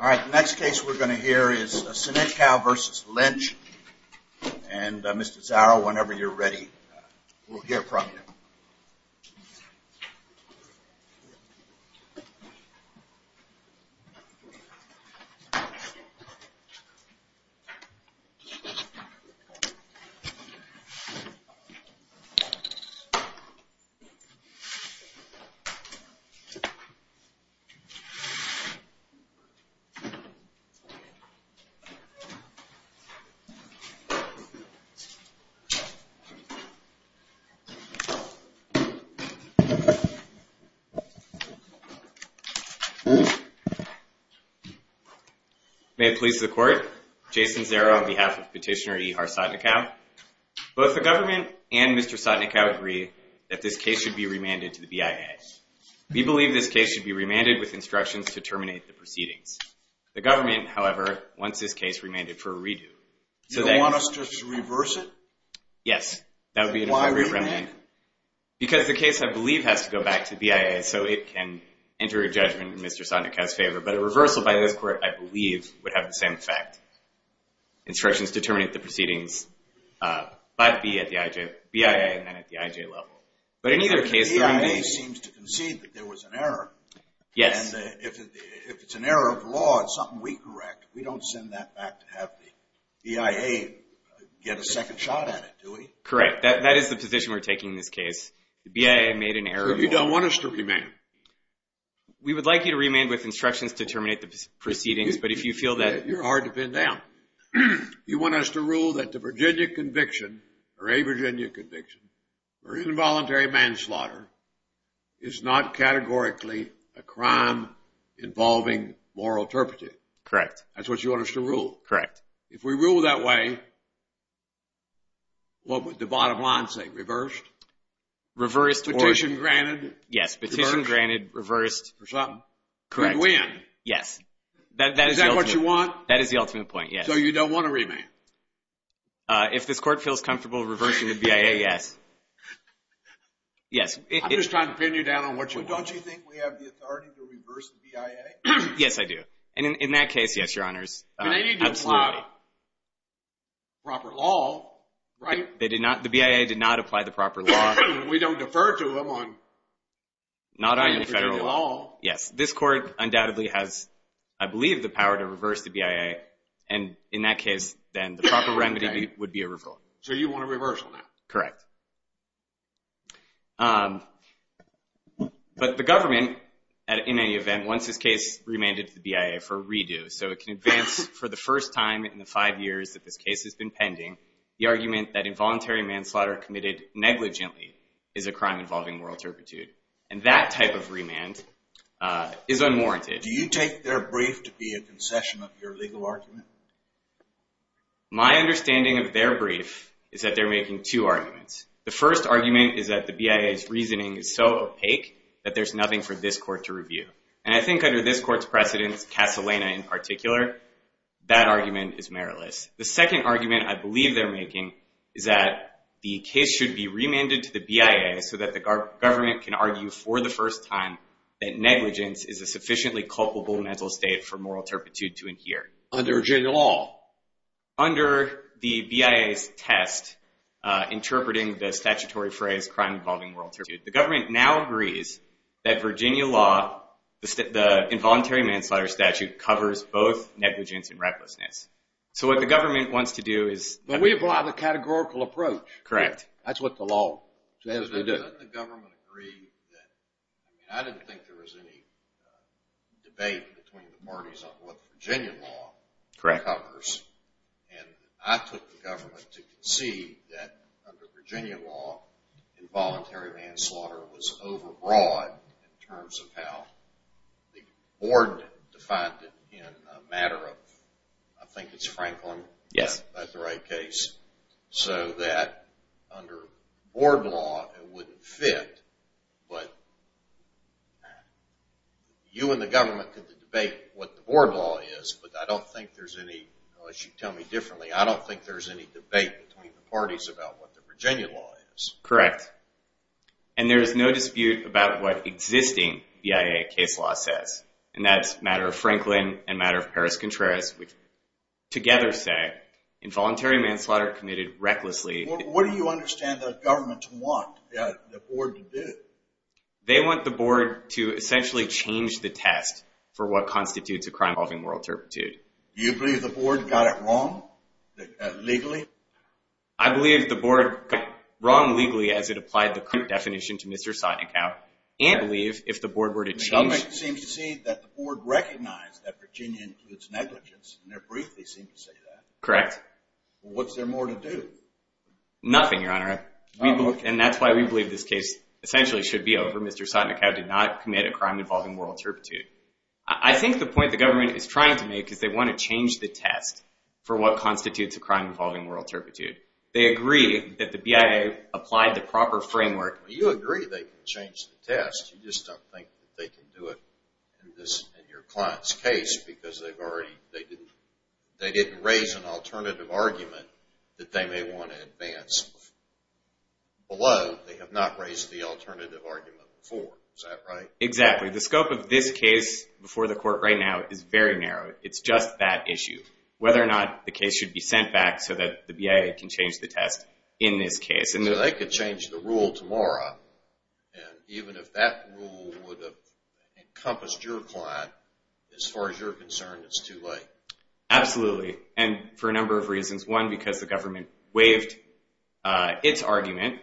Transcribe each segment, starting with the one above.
All right, the next case we're going to hear is Sotnikau v. Lynch and Mr. Zaro, whenever you're ready, we'll hear from him. May it please the court, Jason Zaro on behalf of Petitioner Ihar Sotnikau, both the government and Mr. Sotnikau agree that this case should be remanded to the BIA. We believe this case should be remanded with instructions to terminate the proceedings. The government, however, wants this case remanded for a redo. You don't want us to reverse it? Yes, that would be an appropriate remand. Why remand? Because the case, I believe, has to go back to BIA, so it can enter a judgment in Mr. Sotnikau's favor. But a reversal by this court, I believe, would have the same effect. Instructions to terminate the proceedings, but be at the BIA and then at the IJ level. But in either case, the remand is. The BIA seems to concede that there was an error. Yes. If it's an error of law, it's something we correct. We don't send that back to have the BIA get a second shot at it, do we? Correct. That is the position we're taking in this case. The BIA made an error of law. So you don't want us to remand? We would like you to remand with instructions to terminate the proceedings, but if you feel that. You're hard to pin down. You want us to rule that the Virginia conviction, or a Virginia conviction, or involuntary manslaughter is not categorically a crime involving moral turpitude. Correct. That's what you want us to rule? Correct. If we rule that way, what would the bottom line say? Reversed? Reversed. Petition granted. Yes. Petition granted. Reversed. For something. Correct. We win. Yes. Is that what you want? That is the ultimate point, yes. So you don't want a remand? If this court feels comfortable reversing the BIA, yes. Yes. I'm just trying to pin you down on what you want. Don't you think we have the authority to reverse the BIA? Yes, I do. And in that case, yes, your honors. But they need to apply proper law, right? The BIA did not apply the proper law. We don't defer to them on any particular law. Yes. This court undoubtedly has, I believe, the power to reverse the BIA. And in that case, then, the proper remedy would be a revoke. So you want a reversal now? Correct. But the government, in any event, wants this case remanded to the BIA for a redo. So it can advance, for the first time in the five years that this case has been pending, the argument that involuntary manslaughter committed negligently is a crime involving moral turpitude. And that type of remand is unwarranted. Do you take their brief to be a concession of your legal argument? My understanding of their brief is that they're making two arguments. The first argument is that the BIA's reasoning is so opaque that there's nothing for this court to review. And I think under this court's precedence, Casalena in particular, that argument is meritless. The second argument I believe they're making is that the case should be remanded to the BIA so that the government can argue for the first time that negligence is a sufficiently culpable mental state for moral turpitude to adhere. Under general law? Interpreting the statutory phrase, crime involving moral turpitude, the government now agrees that Virginia law, the involuntary manslaughter statute, covers both negligence and recklessness. So what the government wants to do is But we apply the categorical approach. Correct. That's what the law says we do. Doesn't the government agree that, I mean, I didn't think there was any debate between the parties on what Virginia law covers. And I took the government to concede that under Virginia law, involuntary manslaughter was overbroad in terms of how the board defined it in a matter of, I think it's Franklin? Yes. That's the right case. So that under board law, it wouldn't fit. But you and the government could debate what the board law is. But I don't think there's any, unless you tell me differently, I don't think there's any debate between the parties about what the Virginia law is. Correct. And there is no dispute about what existing BIA case law says. And that's a matter of Franklin and a matter of Paris Contreras, which together say involuntary manslaughter committed recklessly. What do you understand the government want the board to do? They want the board to essentially change the test for what constitutes a crime involving moral turpitude. Do you believe the board got it wrong legally? I believe the board got it wrong legally as it applied the current definition to Mr. Sotinacow and believe if the board were to change it. The government seems to see that the board recognized that Virginia includes negligence in their brief. They seem to say that. Correct. What's there more to do? Nothing, Your Honor. And that's why we believe this case essentially should be over. Mr. Sotinacow did not commit a crime involving moral turpitude. I think the point the government is trying to make is they want to change the test for what constitutes a crime involving moral turpitude. They agree that the BIA applied the proper framework. You agree they can change the test. You just don't think they can do it in your client's case because they didn't raise an alternative argument that they may want to advance. Below, they have not raised the alternative argument before. Is that right? Exactly. The scope of this case before the court right now is very narrow. It's just that issue. Whether or not the case should be sent back so that the BIA can change the test in this case. So they could change the rule tomorrow. And even if that rule would have encompassed your client, as far as you're concerned, it's too late. Absolutely. And for a number of reasons. One, because the government waived its argument.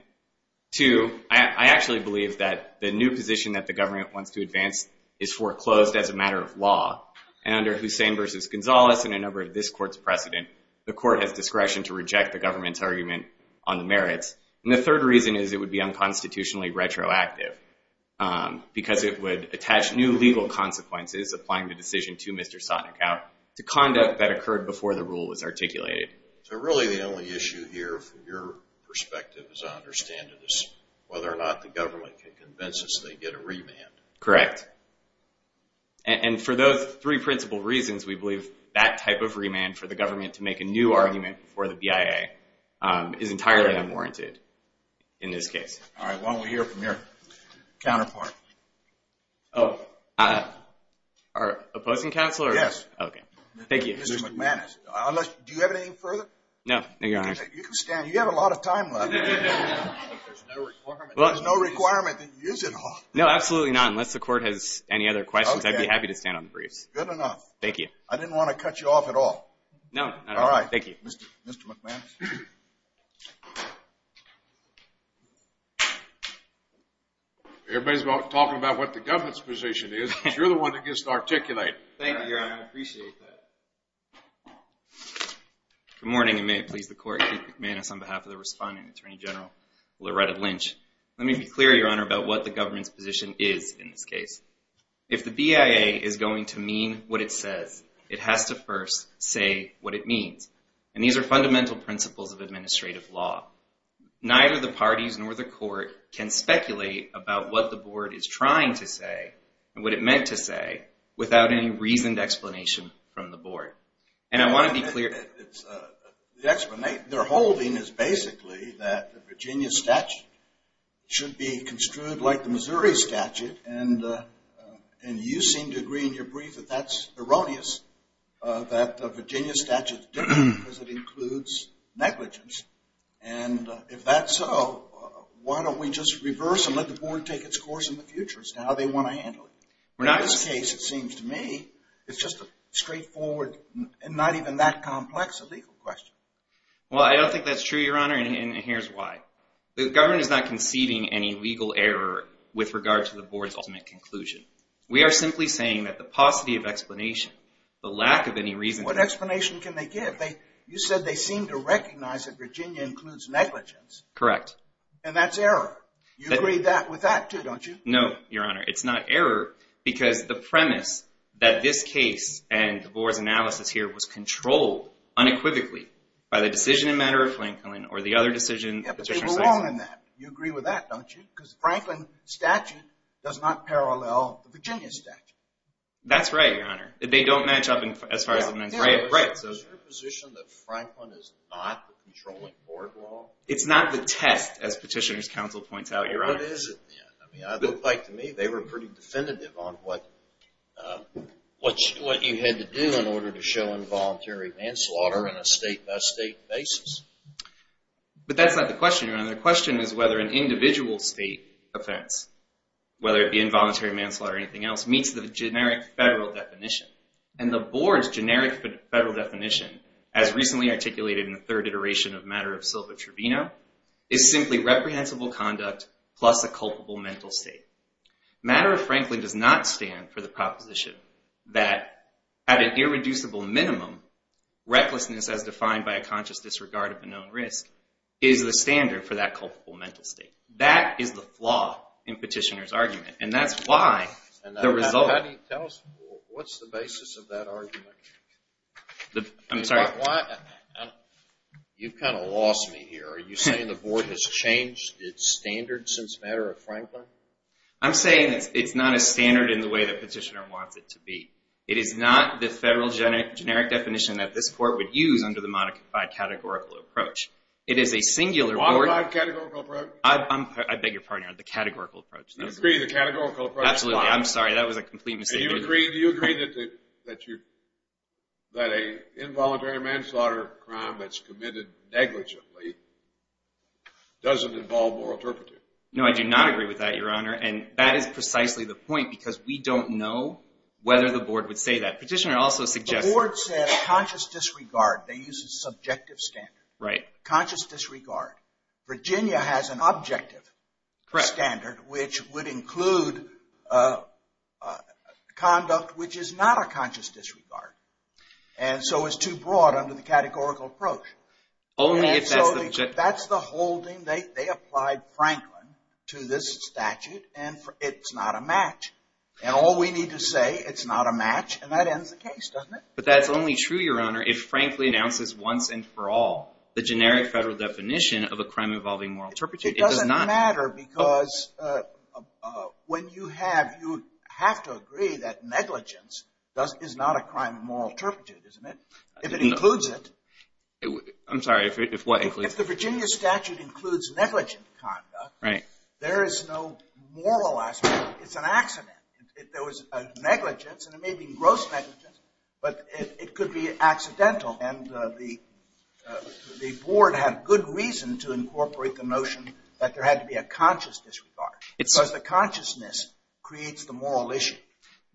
Two, I actually believe that the new position that the government wants to advance is foreclosed as a matter of law. And under Hussein versus Gonzalez and a number of this court's precedent, the court has discretion to reject the government's argument on the merits. And the third reason is it would be unconstitutionally retroactive because it would attach new legal consequences applying the decision to Mr. Sotnikow to conduct that occurred before the rule was articulated. So really the only issue here, from your perspective, as I understand it, is whether or not the government can convince us they get a remand. Correct. And for those three principal reasons, we believe that type of remand for the government to make a new argument for the BIA is entirely unwarranted in this case. All right, why don't we hear from your counterpart. Oh, our opposing counselor? Yes. OK. Thank you. Mr. McManus. Unless, do you have anything further? No, no, Your Honor. You can stand. You have a lot of time left. There's no requirement that you use it all. No, absolutely not. Unless the court has any other questions, I'd be happy to stand on the briefs. Good enough. Thank you. I didn't want to cut you off at all. No, not at all. Thank you. Mr. McManus. Everybody's talking about what the government's position is. You're the one that gets to articulate. Thank you, Your Honor. I appreciate that. Good morning, and may it please the court. Keith McManus on behalf of the responding Attorney General Loretta Lynch. Let me be clear, Your Honor, about what the government's position is in this case. If the BIA is going to mean what it says, it has to first say what it means. And these are fundamental principles of administrative law. Neither the parties nor the court can speculate about what the board is trying to say and what it meant to say without any reasoned explanation from the board. And I want to be clear that the explanation they're holding is basically that the Virginia statute should be construed like the Missouri statute. And you seem to agree in your brief that that's erroneous, that the Virginia statute is different because it includes negligence. And if that's so, why don't we just reverse and let the board take its course in the future as to how they want to handle it? In this case, it seems to me, it's just a straightforward and not even that complex a legal question. Well, I don't think that's true, Your Honor, and here's why. The government is not conceiving any legal error with regard to the board's ultimate conclusion. We are simply saying that the paucity of explanation, the lack of any reason to do so. What explanation can they give? You said they seem to recognize that Virginia includes negligence. Correct. And that's error. You agree with that, too, don't you? No, Your Honor. It's not error because the premise that this case and the board's analysis here was controlled unequivocally by the decision in matter of Franklin or the other decision the petitioner cited. Yeah, but you were wrong in that. You agree with that, don't you? Because the Franklin statute does not parallel the Virginia statute. That's right, Your Honor. They don't match up as far as the men's rights. Yeah, but is your position that Franklin is not the controlling board at all? It's not the test, as Petitioner's Counsel points out, Your Honor. I mean, it looked like to me they were pretty definitive on what you had to do in order to show involuntary manslaughter on a state-by-state basis. But that's not the question, Your Honor. The question is whether an individual state offense, whether it be involuntary manslaughter or anything else, meets the generic federal definition. And the board's generic federal definition, as recently articulated in the third iteration of matter of Silva-Trevino, is simply reprehensible conduct plus a culpable mental state. Matter of Franklin does not stand for the proposition that, at an irreducible minimum, recklessness, as defined by a conscious disregard of a known risk, is the standard for that culpable mental state. That is the flaw in Petitioner's argument. And that's why the result of the board has changed its standard since matter of Franklin? I'm saying it's not a standard in the way that Petitioner wants it to be. It is not the federal generic definition that this court would use under the modified categorical approach. It is a singular board. Modified categorical approach? I beg your pardon, Your Honor. The categorical approach. You agree the categorical approach is flawed? Absolutely. I'm sorry. That was a complete mistake. Do you agree that an involuntary manslaughter crime that's committed negligently doesn't involve moral turpitude? No, I do not agree with that, Your Honor. And that is precisely the point, because we don't know whether the board would say that. Petitioner also suggests that. The board said conscious disregard. They used a subjective standard. Right. Conscious disregard. Virginia has an objective standard, which would include conduct which is not a conscious disregard. And so it's too broad under the categorical approach. Only if that's the objective. That's the whole thing. They applied Franklin to this statute, and it's not a match. And all we need to say, it's not a match, and that ends the case, doesn't it? But that's only true, Your Honor, if Franklin announces once and for all the generic federal definition of a crime involving moral turpitude. It doesn't matter, because when you have, you have to agree that negligence is not a crime of moral turpitude, isn't it? If it includes it. I'm sorry, if what includes? If the Virginia statute includes negligent conduct, there is no moral aspect. It's an accident. There was a negligence, and it may be gross negligence, but it could be accidental. And the board had good reason to incorporate the notion that there had to be a conscious disregard. Because the consciousness creates the moral issue.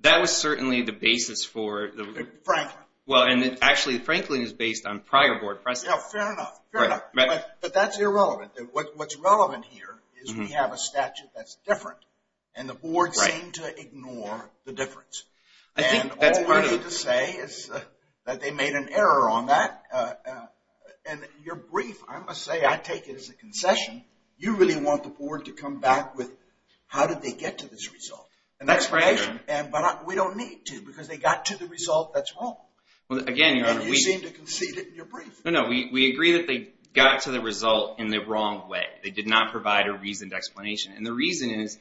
That was certainly the basis for the- Franklin. Well, and actually, Franklin is based on prior board precedence. Yeah, fair enough, fair enough. But that's irrelevant. What's relevant here is we have a statute that's different, and the board seemed to ignore the difference. I think that's part of the- And all we need to say is that they made an error on that. And you're brief. I must say, I take it as a concession. You really want the board to come back with, how did they get to this result? That's right, Your Honor. But we don't need to, because they got to the result that's wrong. Again, Your Honor, we- And you seem to concede it in your brief. No, no. We agree that they got to the result in the wrong way. They did not provide a reasoned explanation. And the reason is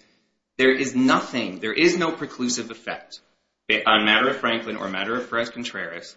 there is nothing, there is no preclusive effect on matter of Franklin or matter of Perez-Contreras.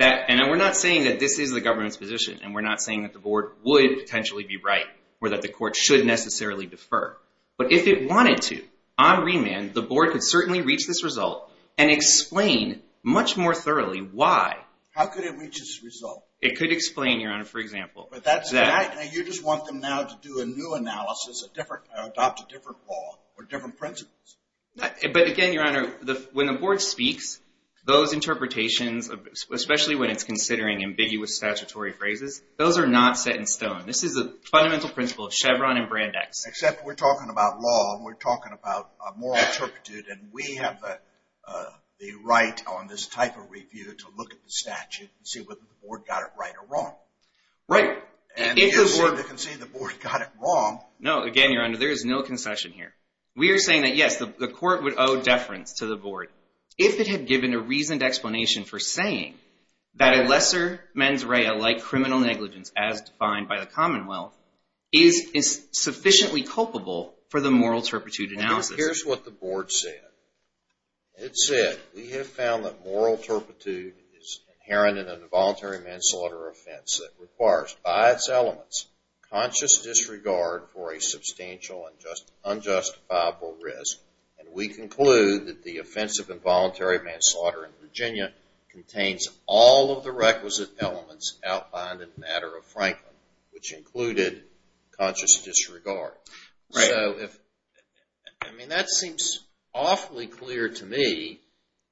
And we're not saying that this is the government's position, and we're not saying that the board would potentially be right, or that the court should necessarily defer. But if it wanted to, on remand, the board could certainly reach this result and explain much more thoroughly why. How could it reach this result? It could explain, Your Honor, for example. But that's- You just want them now to do a new analysis, a different, adopt a different law, or different principles. But again, Your Honor, when the board speaks, those interpretations, especially when it's considering ambiguous statutory phrases, those are not set in stone. This is the fundamental principle of Chevron and Brandeis. Except we're talking about law, and we're talking about a moral turpitude. And we have the right on this type of review to look at the statute and see whether the board got it right or wrong. Right. And if the board can see the board got it wrong- No, again, Your Honor, there is no concession here. We are saying that, yes, the court would owe deference to the board if it had given a reasoned explanation for saying that a lesser mens rea, like criminal negligence, as defined by the Commonwealth, is sufficiently culpable for the moral turpitude analysis. Well, here's what the board said. It said, we have found that moral turpitude is inherent in an involuntary manslaughter offense that requires, by its elements, conscious disregard for a substantial and unjustifiable risk. And we conclude that the offense of involuntary manslaughter in Virginia contains all of the requisite elements outlined in the matter of Franklin, which included conscious disregard. Right. I mean, that seems awfully clear to me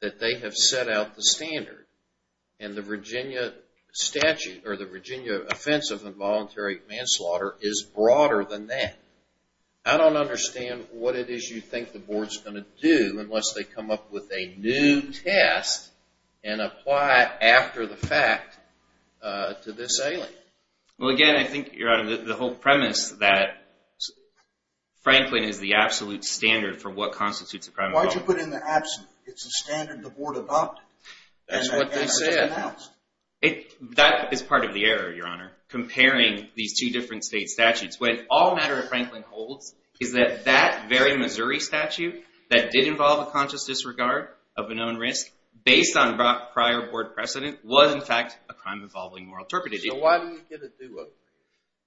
that they have set out the standard. And the Virginia statute, or the Virginia offense of involuntary manslaughter, is broader than that. I don't understand what it is you think the board's going to do unless they come up with a new test and apply it after the fact to this alien. Well, again, I think, Your Honor, the whole premise that Franklin is the absolute standard for what constitutes a crime of violence. Why did you put in the absolute? It's the standard the board adopted. That's what they said. That is part of the error, Your Honor, comparing these two different state statutes. What all matter of Franklin holds is that that very Missouri statute that did involve a conscious disregard of a known risk, based on prior board precedent, was, in fact, a crime involving moral turpitude. So why do you get a do-over?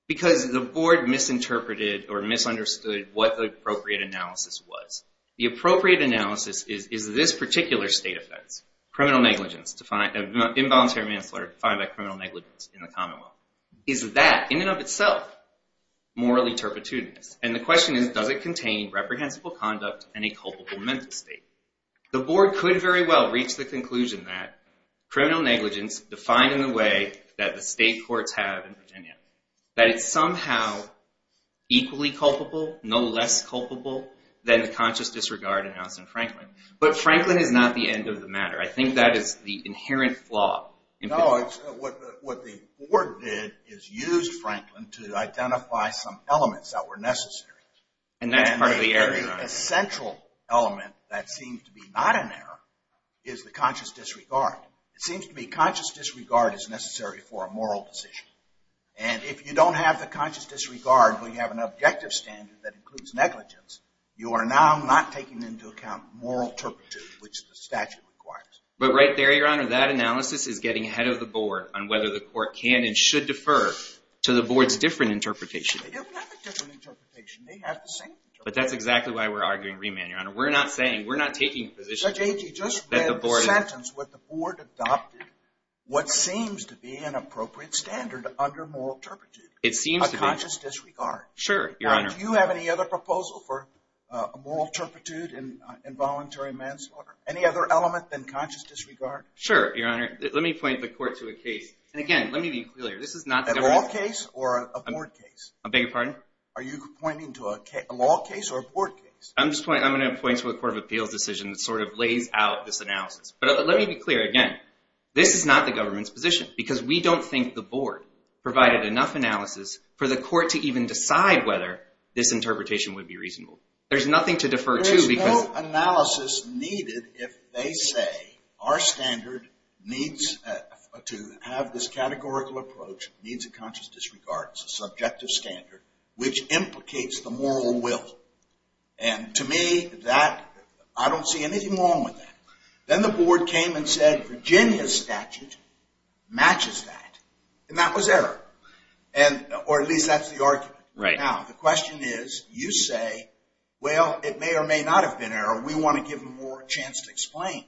Because the board misinterpreted or misunderstood what the appropriate analysis was. The appropriate analysis is, is this particular state offense, criminal negligence, involuntary manslaughter defined by criminal negligence in the common law, is that, in and of itself, morally turpitude? And the question is, does it contain reprehensible conduct and a culpable mental state? The board could very well reach the conclusion that criminal negligence, defined in the way that the state courts have in Virginia, that it's somehow equally culpable, no less culpable, than the conscious disregard announced in Franklin. But Franklin is not the end of the matter. I think that is the inherent flaw. No, what the board did is use Franklin to identify some elements that were necessary. And that's part of the error. A central element that seems to be not an error is the conscious disregard. It seems to me conscious disregard is necessary for a moral decision. And if you don't have the conscious disregard, when you have an objective standard that includes negligence, you are now not taking into account moral turpitude, which the statute requires. But right there, Your Honor, that analysis is getting ahead of the board on whether the court can and should defer to the board's different interpretation. They don't have a different interpretation. They have the same interpretation. But that's exactly why we're arguing remand, Your Honor. We're not saying, we're not taking a position that the board is. Judge Agee, just the sentence what the board adopted, what seems to be an appropriate standard under moral turpitude, a conscious disregard. Sure, Your Honor. Do you have any other proposal for a moral turpitude in involuntary manslaughter? Any other element than conscious disregard? Sure, Your Honor. Let me point the court to a case. And again, let me be clear. This is not the government. A law case or a board case? I beg your pardon? Are you pointing to a law case or a board case? I'm going to point to a Court of Appeals decision that sort of lays out this analysis. But let me be clear again. This is not the government's position. Because we don't think the board provided enough analysis for the court to even decide whether this interpretation would be reasonable. There's nothing to defer to because. There's no analysis needed if they say our standard needs to have this categorical approach, means of conscious disregard. It's a subjective standard, which implicates the moral will. And to me, I don't see anything wrong with that. Then the board came and said, Virginia's statute matches that. And that was error. Or at least that's the argument. The question is, you say, well, it may or may not have been error. We want to give them more chance to explain.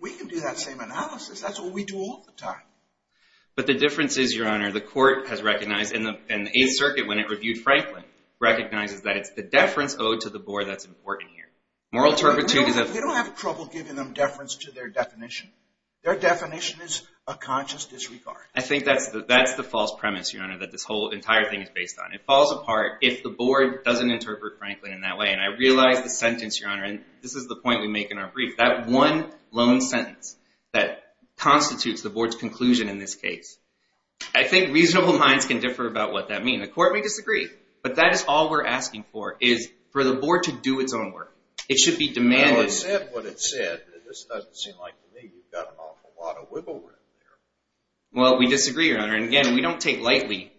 We can do that same analysis. That's what we do all the time. But the difference is, Your Honor, the court has recognized and the Eighth Circuit, when it reviewed Franklin, recognizes that it's the deference owed to the board that's important here. Moral turpitude is a- They don't have trouble giving them deference to their definition. Their definition is a conscious disregard. I think that's the false premise, Your Honor, that this whole entire thing is based on. It falls apart if the board doesn't interpret Franklin in that way. And I realize the sentence, Your Honor, and this is the point we make in our brief, that one lone sentence that constitutes the board's conclusion in this case. I think reasonable minds can differ about what that means. The court may disagree. But that is all we're asking for, is for the board to do its own work. It should be demanding. Well, is that what it said? This doesn't seem like to me you've got an awful lot of wiggle room there. Well, we disagree, Your Honor. And again, we don't take lightly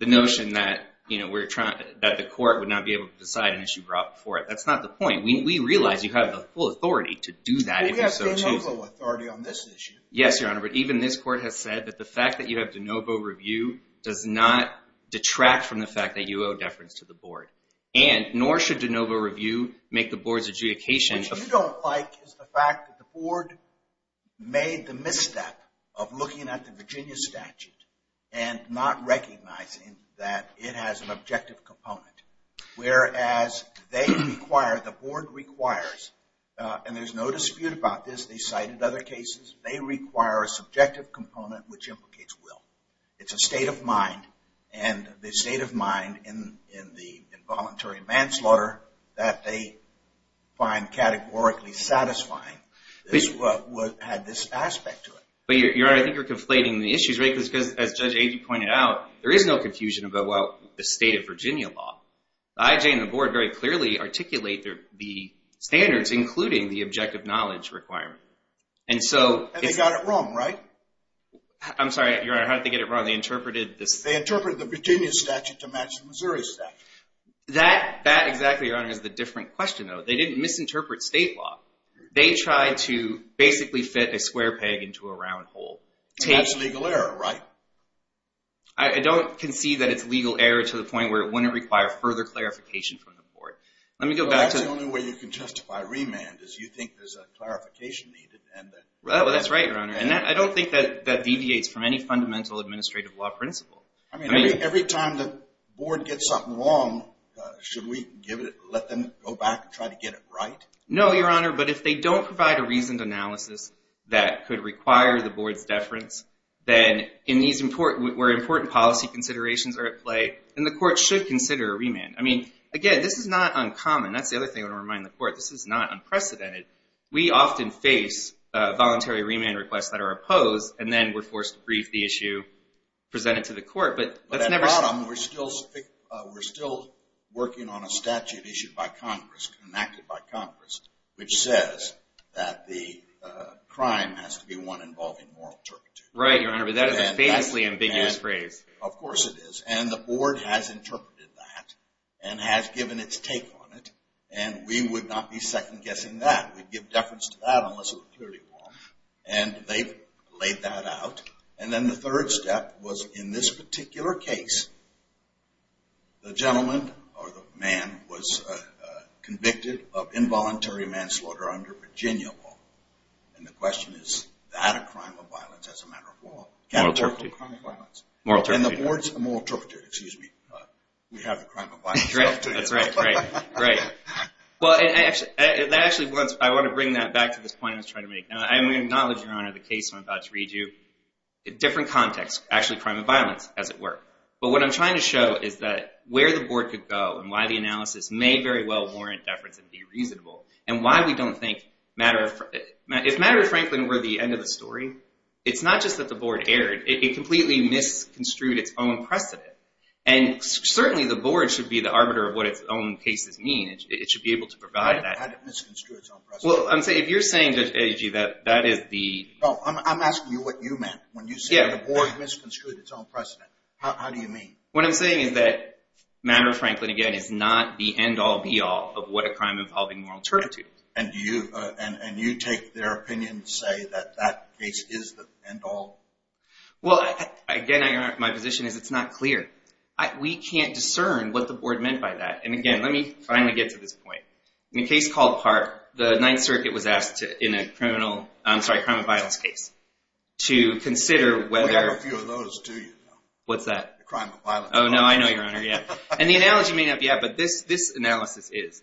the notion that the court would not be able to decide an issue brought before it. That's not the point. We realize you have the full authority to do that, if you so choose. We have full and utter authority on this issue. Yes, Your Honor. But even this court has said that the fact that you have de novo review does not detract from the fact that you owe deference to the board. And nor should de novo review make the board's adjudication of the fact that the board made the misstep of looking at the Virginia statute and not recognizing that it has an objective component. Whereas they require, the board requires, and there's no dispute about this, they cited other cases, they require a subjective component which implicates will. It's a state of mind. And the state of mind in the involuntary manslaughter that they find categorically satisfying is what had this aspect to it. But Your Honor, I think you're conflating the issues, right? Because as Judge Agee pointed out, there is no confusion about the state of Virginia law. The IJ and the board very clearly articulate the standards, including the objective knowledge requirement. And so it's- And they got it wrong, right? I'm sorry, Your Honor. How did they get it wrong? They interpreted this- They interpreted the Virginia statute to match the Missouri statute. That exactly, Your Honor, is the different question, though. They didn't misinterpret state law. They tried to basically fit a square peg into a round hole. And that's legal error, right? I don't concede that it's legal error to the point where it wouldn't require further clarification from the board. Let me go back to- Well, that's the only way you can justify remand, is you think there's a clarification needed. And that- Well, that's right, Your Honor. And I don't think that deviates from any fundamental administrative law principle. I mean, every time the board gets something wrong, should we let them go back and try to get it right? No, Your Honor. But if they don't provide a reasoned analysis that could require the board's deference, then where important policy considerations are at play, then the court should consider a remand. I mean, again, this is not uncommon. That's the other thing I want to remind the court. This is not unprecedented. We often face voluntary remand requests that are opposed, and then we're forced to brief the issue presented to the court. But that's never- But at the bottom, we're still working on a statute issued by Congress, enacted by Congress, which says that the crime has to be one involving moral turpitude. Right, Your Honor. But that is a famously ambiguous phrase. Of course it is. And the board has interpreted that, and has given its take on it. And we would not be second-guessing that. We'd give deference to that, unless it were clearly wrong. And they've laid that out. And then the third step was, in this particular case, the gentleman or the man was convicted of involuntary manslaughter under Virginia law. And the question is, is that a crime of violence as a matter of law? Moral turpitude. A crime of violence. Moral turpitude, Your Honor. And the board's a moral turpitude, excuse me. We have a crime of violence. That's right, right, right. Well, actually, I want to bring that back to this point I was trying to make. I'm going to acknowledge, Your Honor, the case I'm about to read you. Different context. Actually, crime of violence, as it were. But what I'm trying to show is that where the board could go, and why the analysis may very well warrant deference and be reasonable, and why we don't think matter of, if matter of Franklin were the end of the story, it's not just that the board erred. It completely misconstrued its own precedent. And certainly, the board should be the arbiter of what its own cases mean. It should be able to provide that. How did it misconstrue its own precedent? Well, I'm saying, if you're saying, Judge DeGioia, that that is the. Oh, I'm asking you what you meant, when you said the board misconstrued its own precedent. How do you mean? What I'm saying is that matter of Franklin, again, is not the end all be all of what a crime involving moral turpitude. And do you, and you take their opinion to say that that case is the end all? Well, again, Your Honor, my position is it's not clear. We can't discern what the board meant by that. And again, let me finally get to this point. In a case called Park, the Ninth Circuit was asked in a criminal, I'm sorry, crime of violence case, to consider whether. We have a few of those, too, Your Honor. What's that? The crime of violence. Oh, no, I know, Your Honor, yeah. And the analogy may not be out, but this analysis is.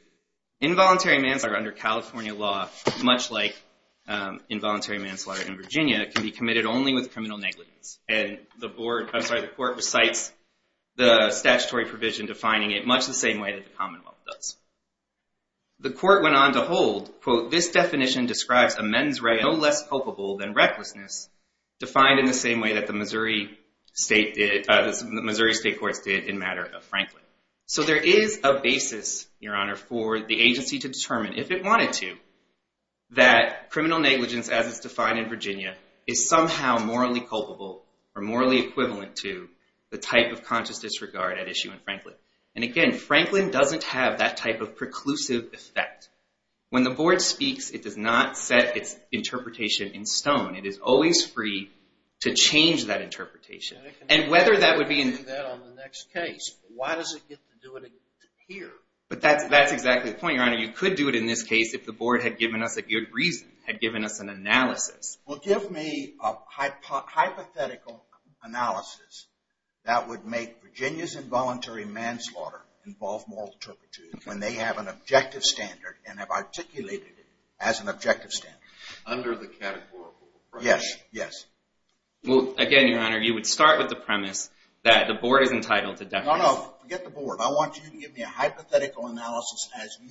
Involuntary manslaughter under California law, much like involuntary manslaughter in Virginia, can be committed only with criminal negligence. And the court recites the statutory provision defining it much the same way that the commonwealth does. The court went on to hold, quote, this definition describes a men's right no less culpable than recklessness, defined in the same way that the Missouri state courts did in matter of Franklin. So there is a basis, Your Honor, for the agency to determine, if it wanted to, that criminal negligence, as it's defined in Virginia, is somehow morally culpable or morally equivalent to the type of conscious disregard at issue in Franklin. And again, Franklin doesn't have that type of preclusive effect. When the board speaks, it does not set its interpretation in stone. It is always free to change that interpretation. And whether that would be in the next case, why does it get to do it here? But that's exactly the point, Your Honor. You could do it in this case if the board had given us a good reason, had given us an analysis. Well, give me a hypothetical analysis that would make Virginia's involuntary manslaughter involve moral turpitude when they have an objective standard and have articulated it as an objective standard. Under the categorical premise. Yes, yes. Well, again, Your Honor, you would start with the premise that the board is entitled to definition. No, no, forget the board.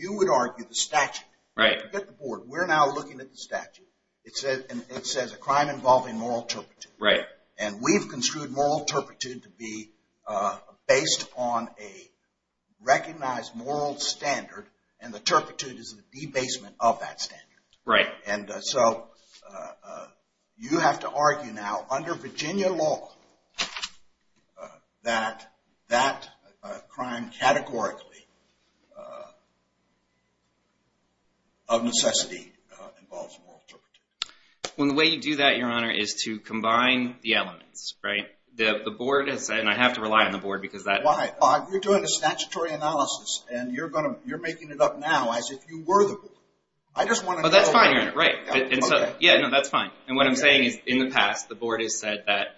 would argue the statute. Right. Forget the board. We're now looking at the statute. It says a crime involving moral turpitude. Right. And we've construed moral turpitude to be based on a recognized moral standard. And the turpitude is the debasement of that standard. Right. And so you have to argue now, under Virginia law, that that crime categorically of necessity involves moral turpitude. Well, the way you do that, Your Honor, is to combine the elements. Right? The board has said, and I have to rely on the board because that. Why? You're doing a statutory analysis. And you're making it up now as if you were the board. I just want to know. Oh, that's fine, Your Honor. Right. OK. Yeah, no, that's fine. And what I'm saying is, in the past, the board has said that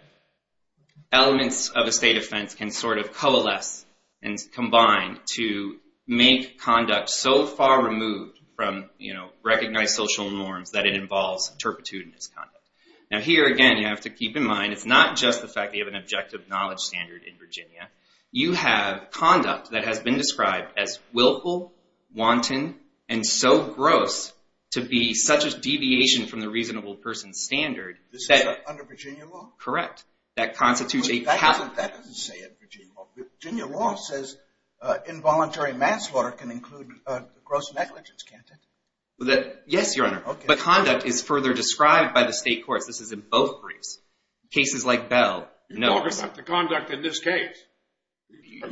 elements of a state offense can sort of coalesce and combine to make conduct so far removed from recognized social norms that it involves turpitude in its conduct. Now here, again, you have to keep in mind, it's not just the fact that you have an objective knowledge standard in Virginia. You have conduct that has been described as willful, wanton, and so gross to be such a deviation from the reasonable person's standard This is under Virginia law? Correct. That constitutes a capital offense. That doesn't say it in Virginia law. Virginia law says involuntary manslaughter can include gross negligence, can't it? Yes, Your Honor. But conduct is further described by the state courts. This is in both briefs. Cases like Bell, no. You're talking about the conduct in this case. No,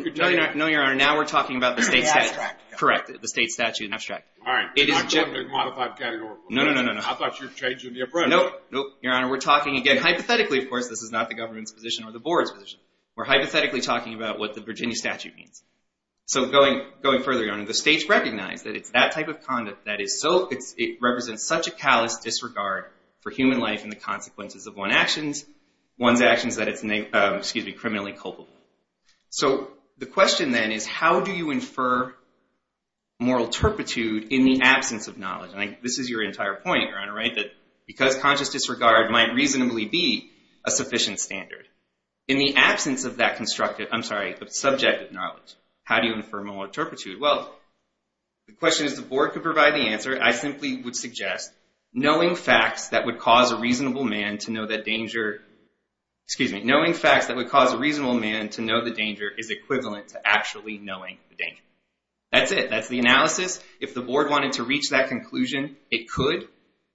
Your Honor. Now we're talking about the state statute. Correct. The state statute in abstract. All right. It is generally modified categorically. No, no, no, no, no. I thought you were changing the approach. Nope. Nope. Your Honor, we're talking, again, hypothetically, of course, this is not the government's position or the board's position. We're hypothetically talking about what the Virginia statute means. So going further, Your Honor, the states recognize that it's that type of conduct that is so, it represents such a callous disregard for human life and the consequences of one's actions that it's criminally culpable. So the question, then, is how do you infer moral turpitude in the absence of knowledge? And this is your entire point, Your Honor, that because conscious disregard might reasonably be a sufficient standard. In the absence of that constructed, I'm sorry, of subjective knowledge, how do you infer moral turpitude? Well, the question is the board could provide the answer. I simply would suggest knowing facts that would cause a reasonable man to know the danger is equivalent to actually knowing the danger. That's it. That's the analysis. If the board wanted to reach that conclusion, it could.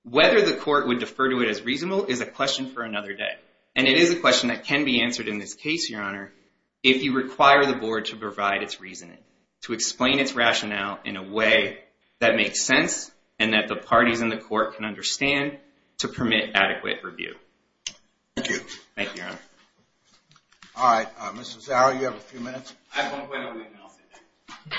Whether the court would defer to it as reasonable is a question for another day. And it is a question that can be answered in this case, Your Honor, if you require the board to provide its reasoning, to explain its rationale in a way that makes sense and that the parties in the court can understand to permit adequate review. Thank you. Thank you, Your Honor. All right, Mr. Zauer, you have a few minutes. I won't wait a week, and I'll say that.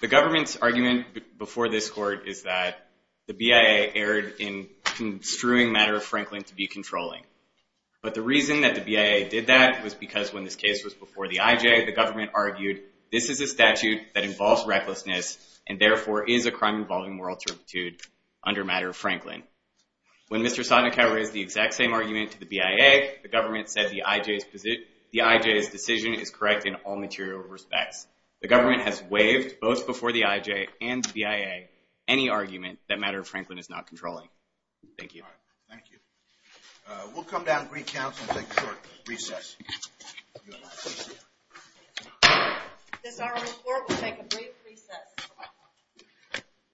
The government's argument before this court is that the BIA erred in construing Matter of Franklin to be controlling. But the reason that the BIA did that was because when this case was before the IJ, the government argued this is a statute that involves recklessness, and therefore is a crime involving moral turpitude under Matter of Franklin. When Mr. Sotnikau raised the exact same argument to the BIA, the government said the IJ's decision is correct in all material respects. The government has waived, both before the IJ and the BIA, any argument that Matter of Franklin is not controlling. Thank you. Thank you. We'll come down to recount and take a short recess. This hour's court will take a brief recess.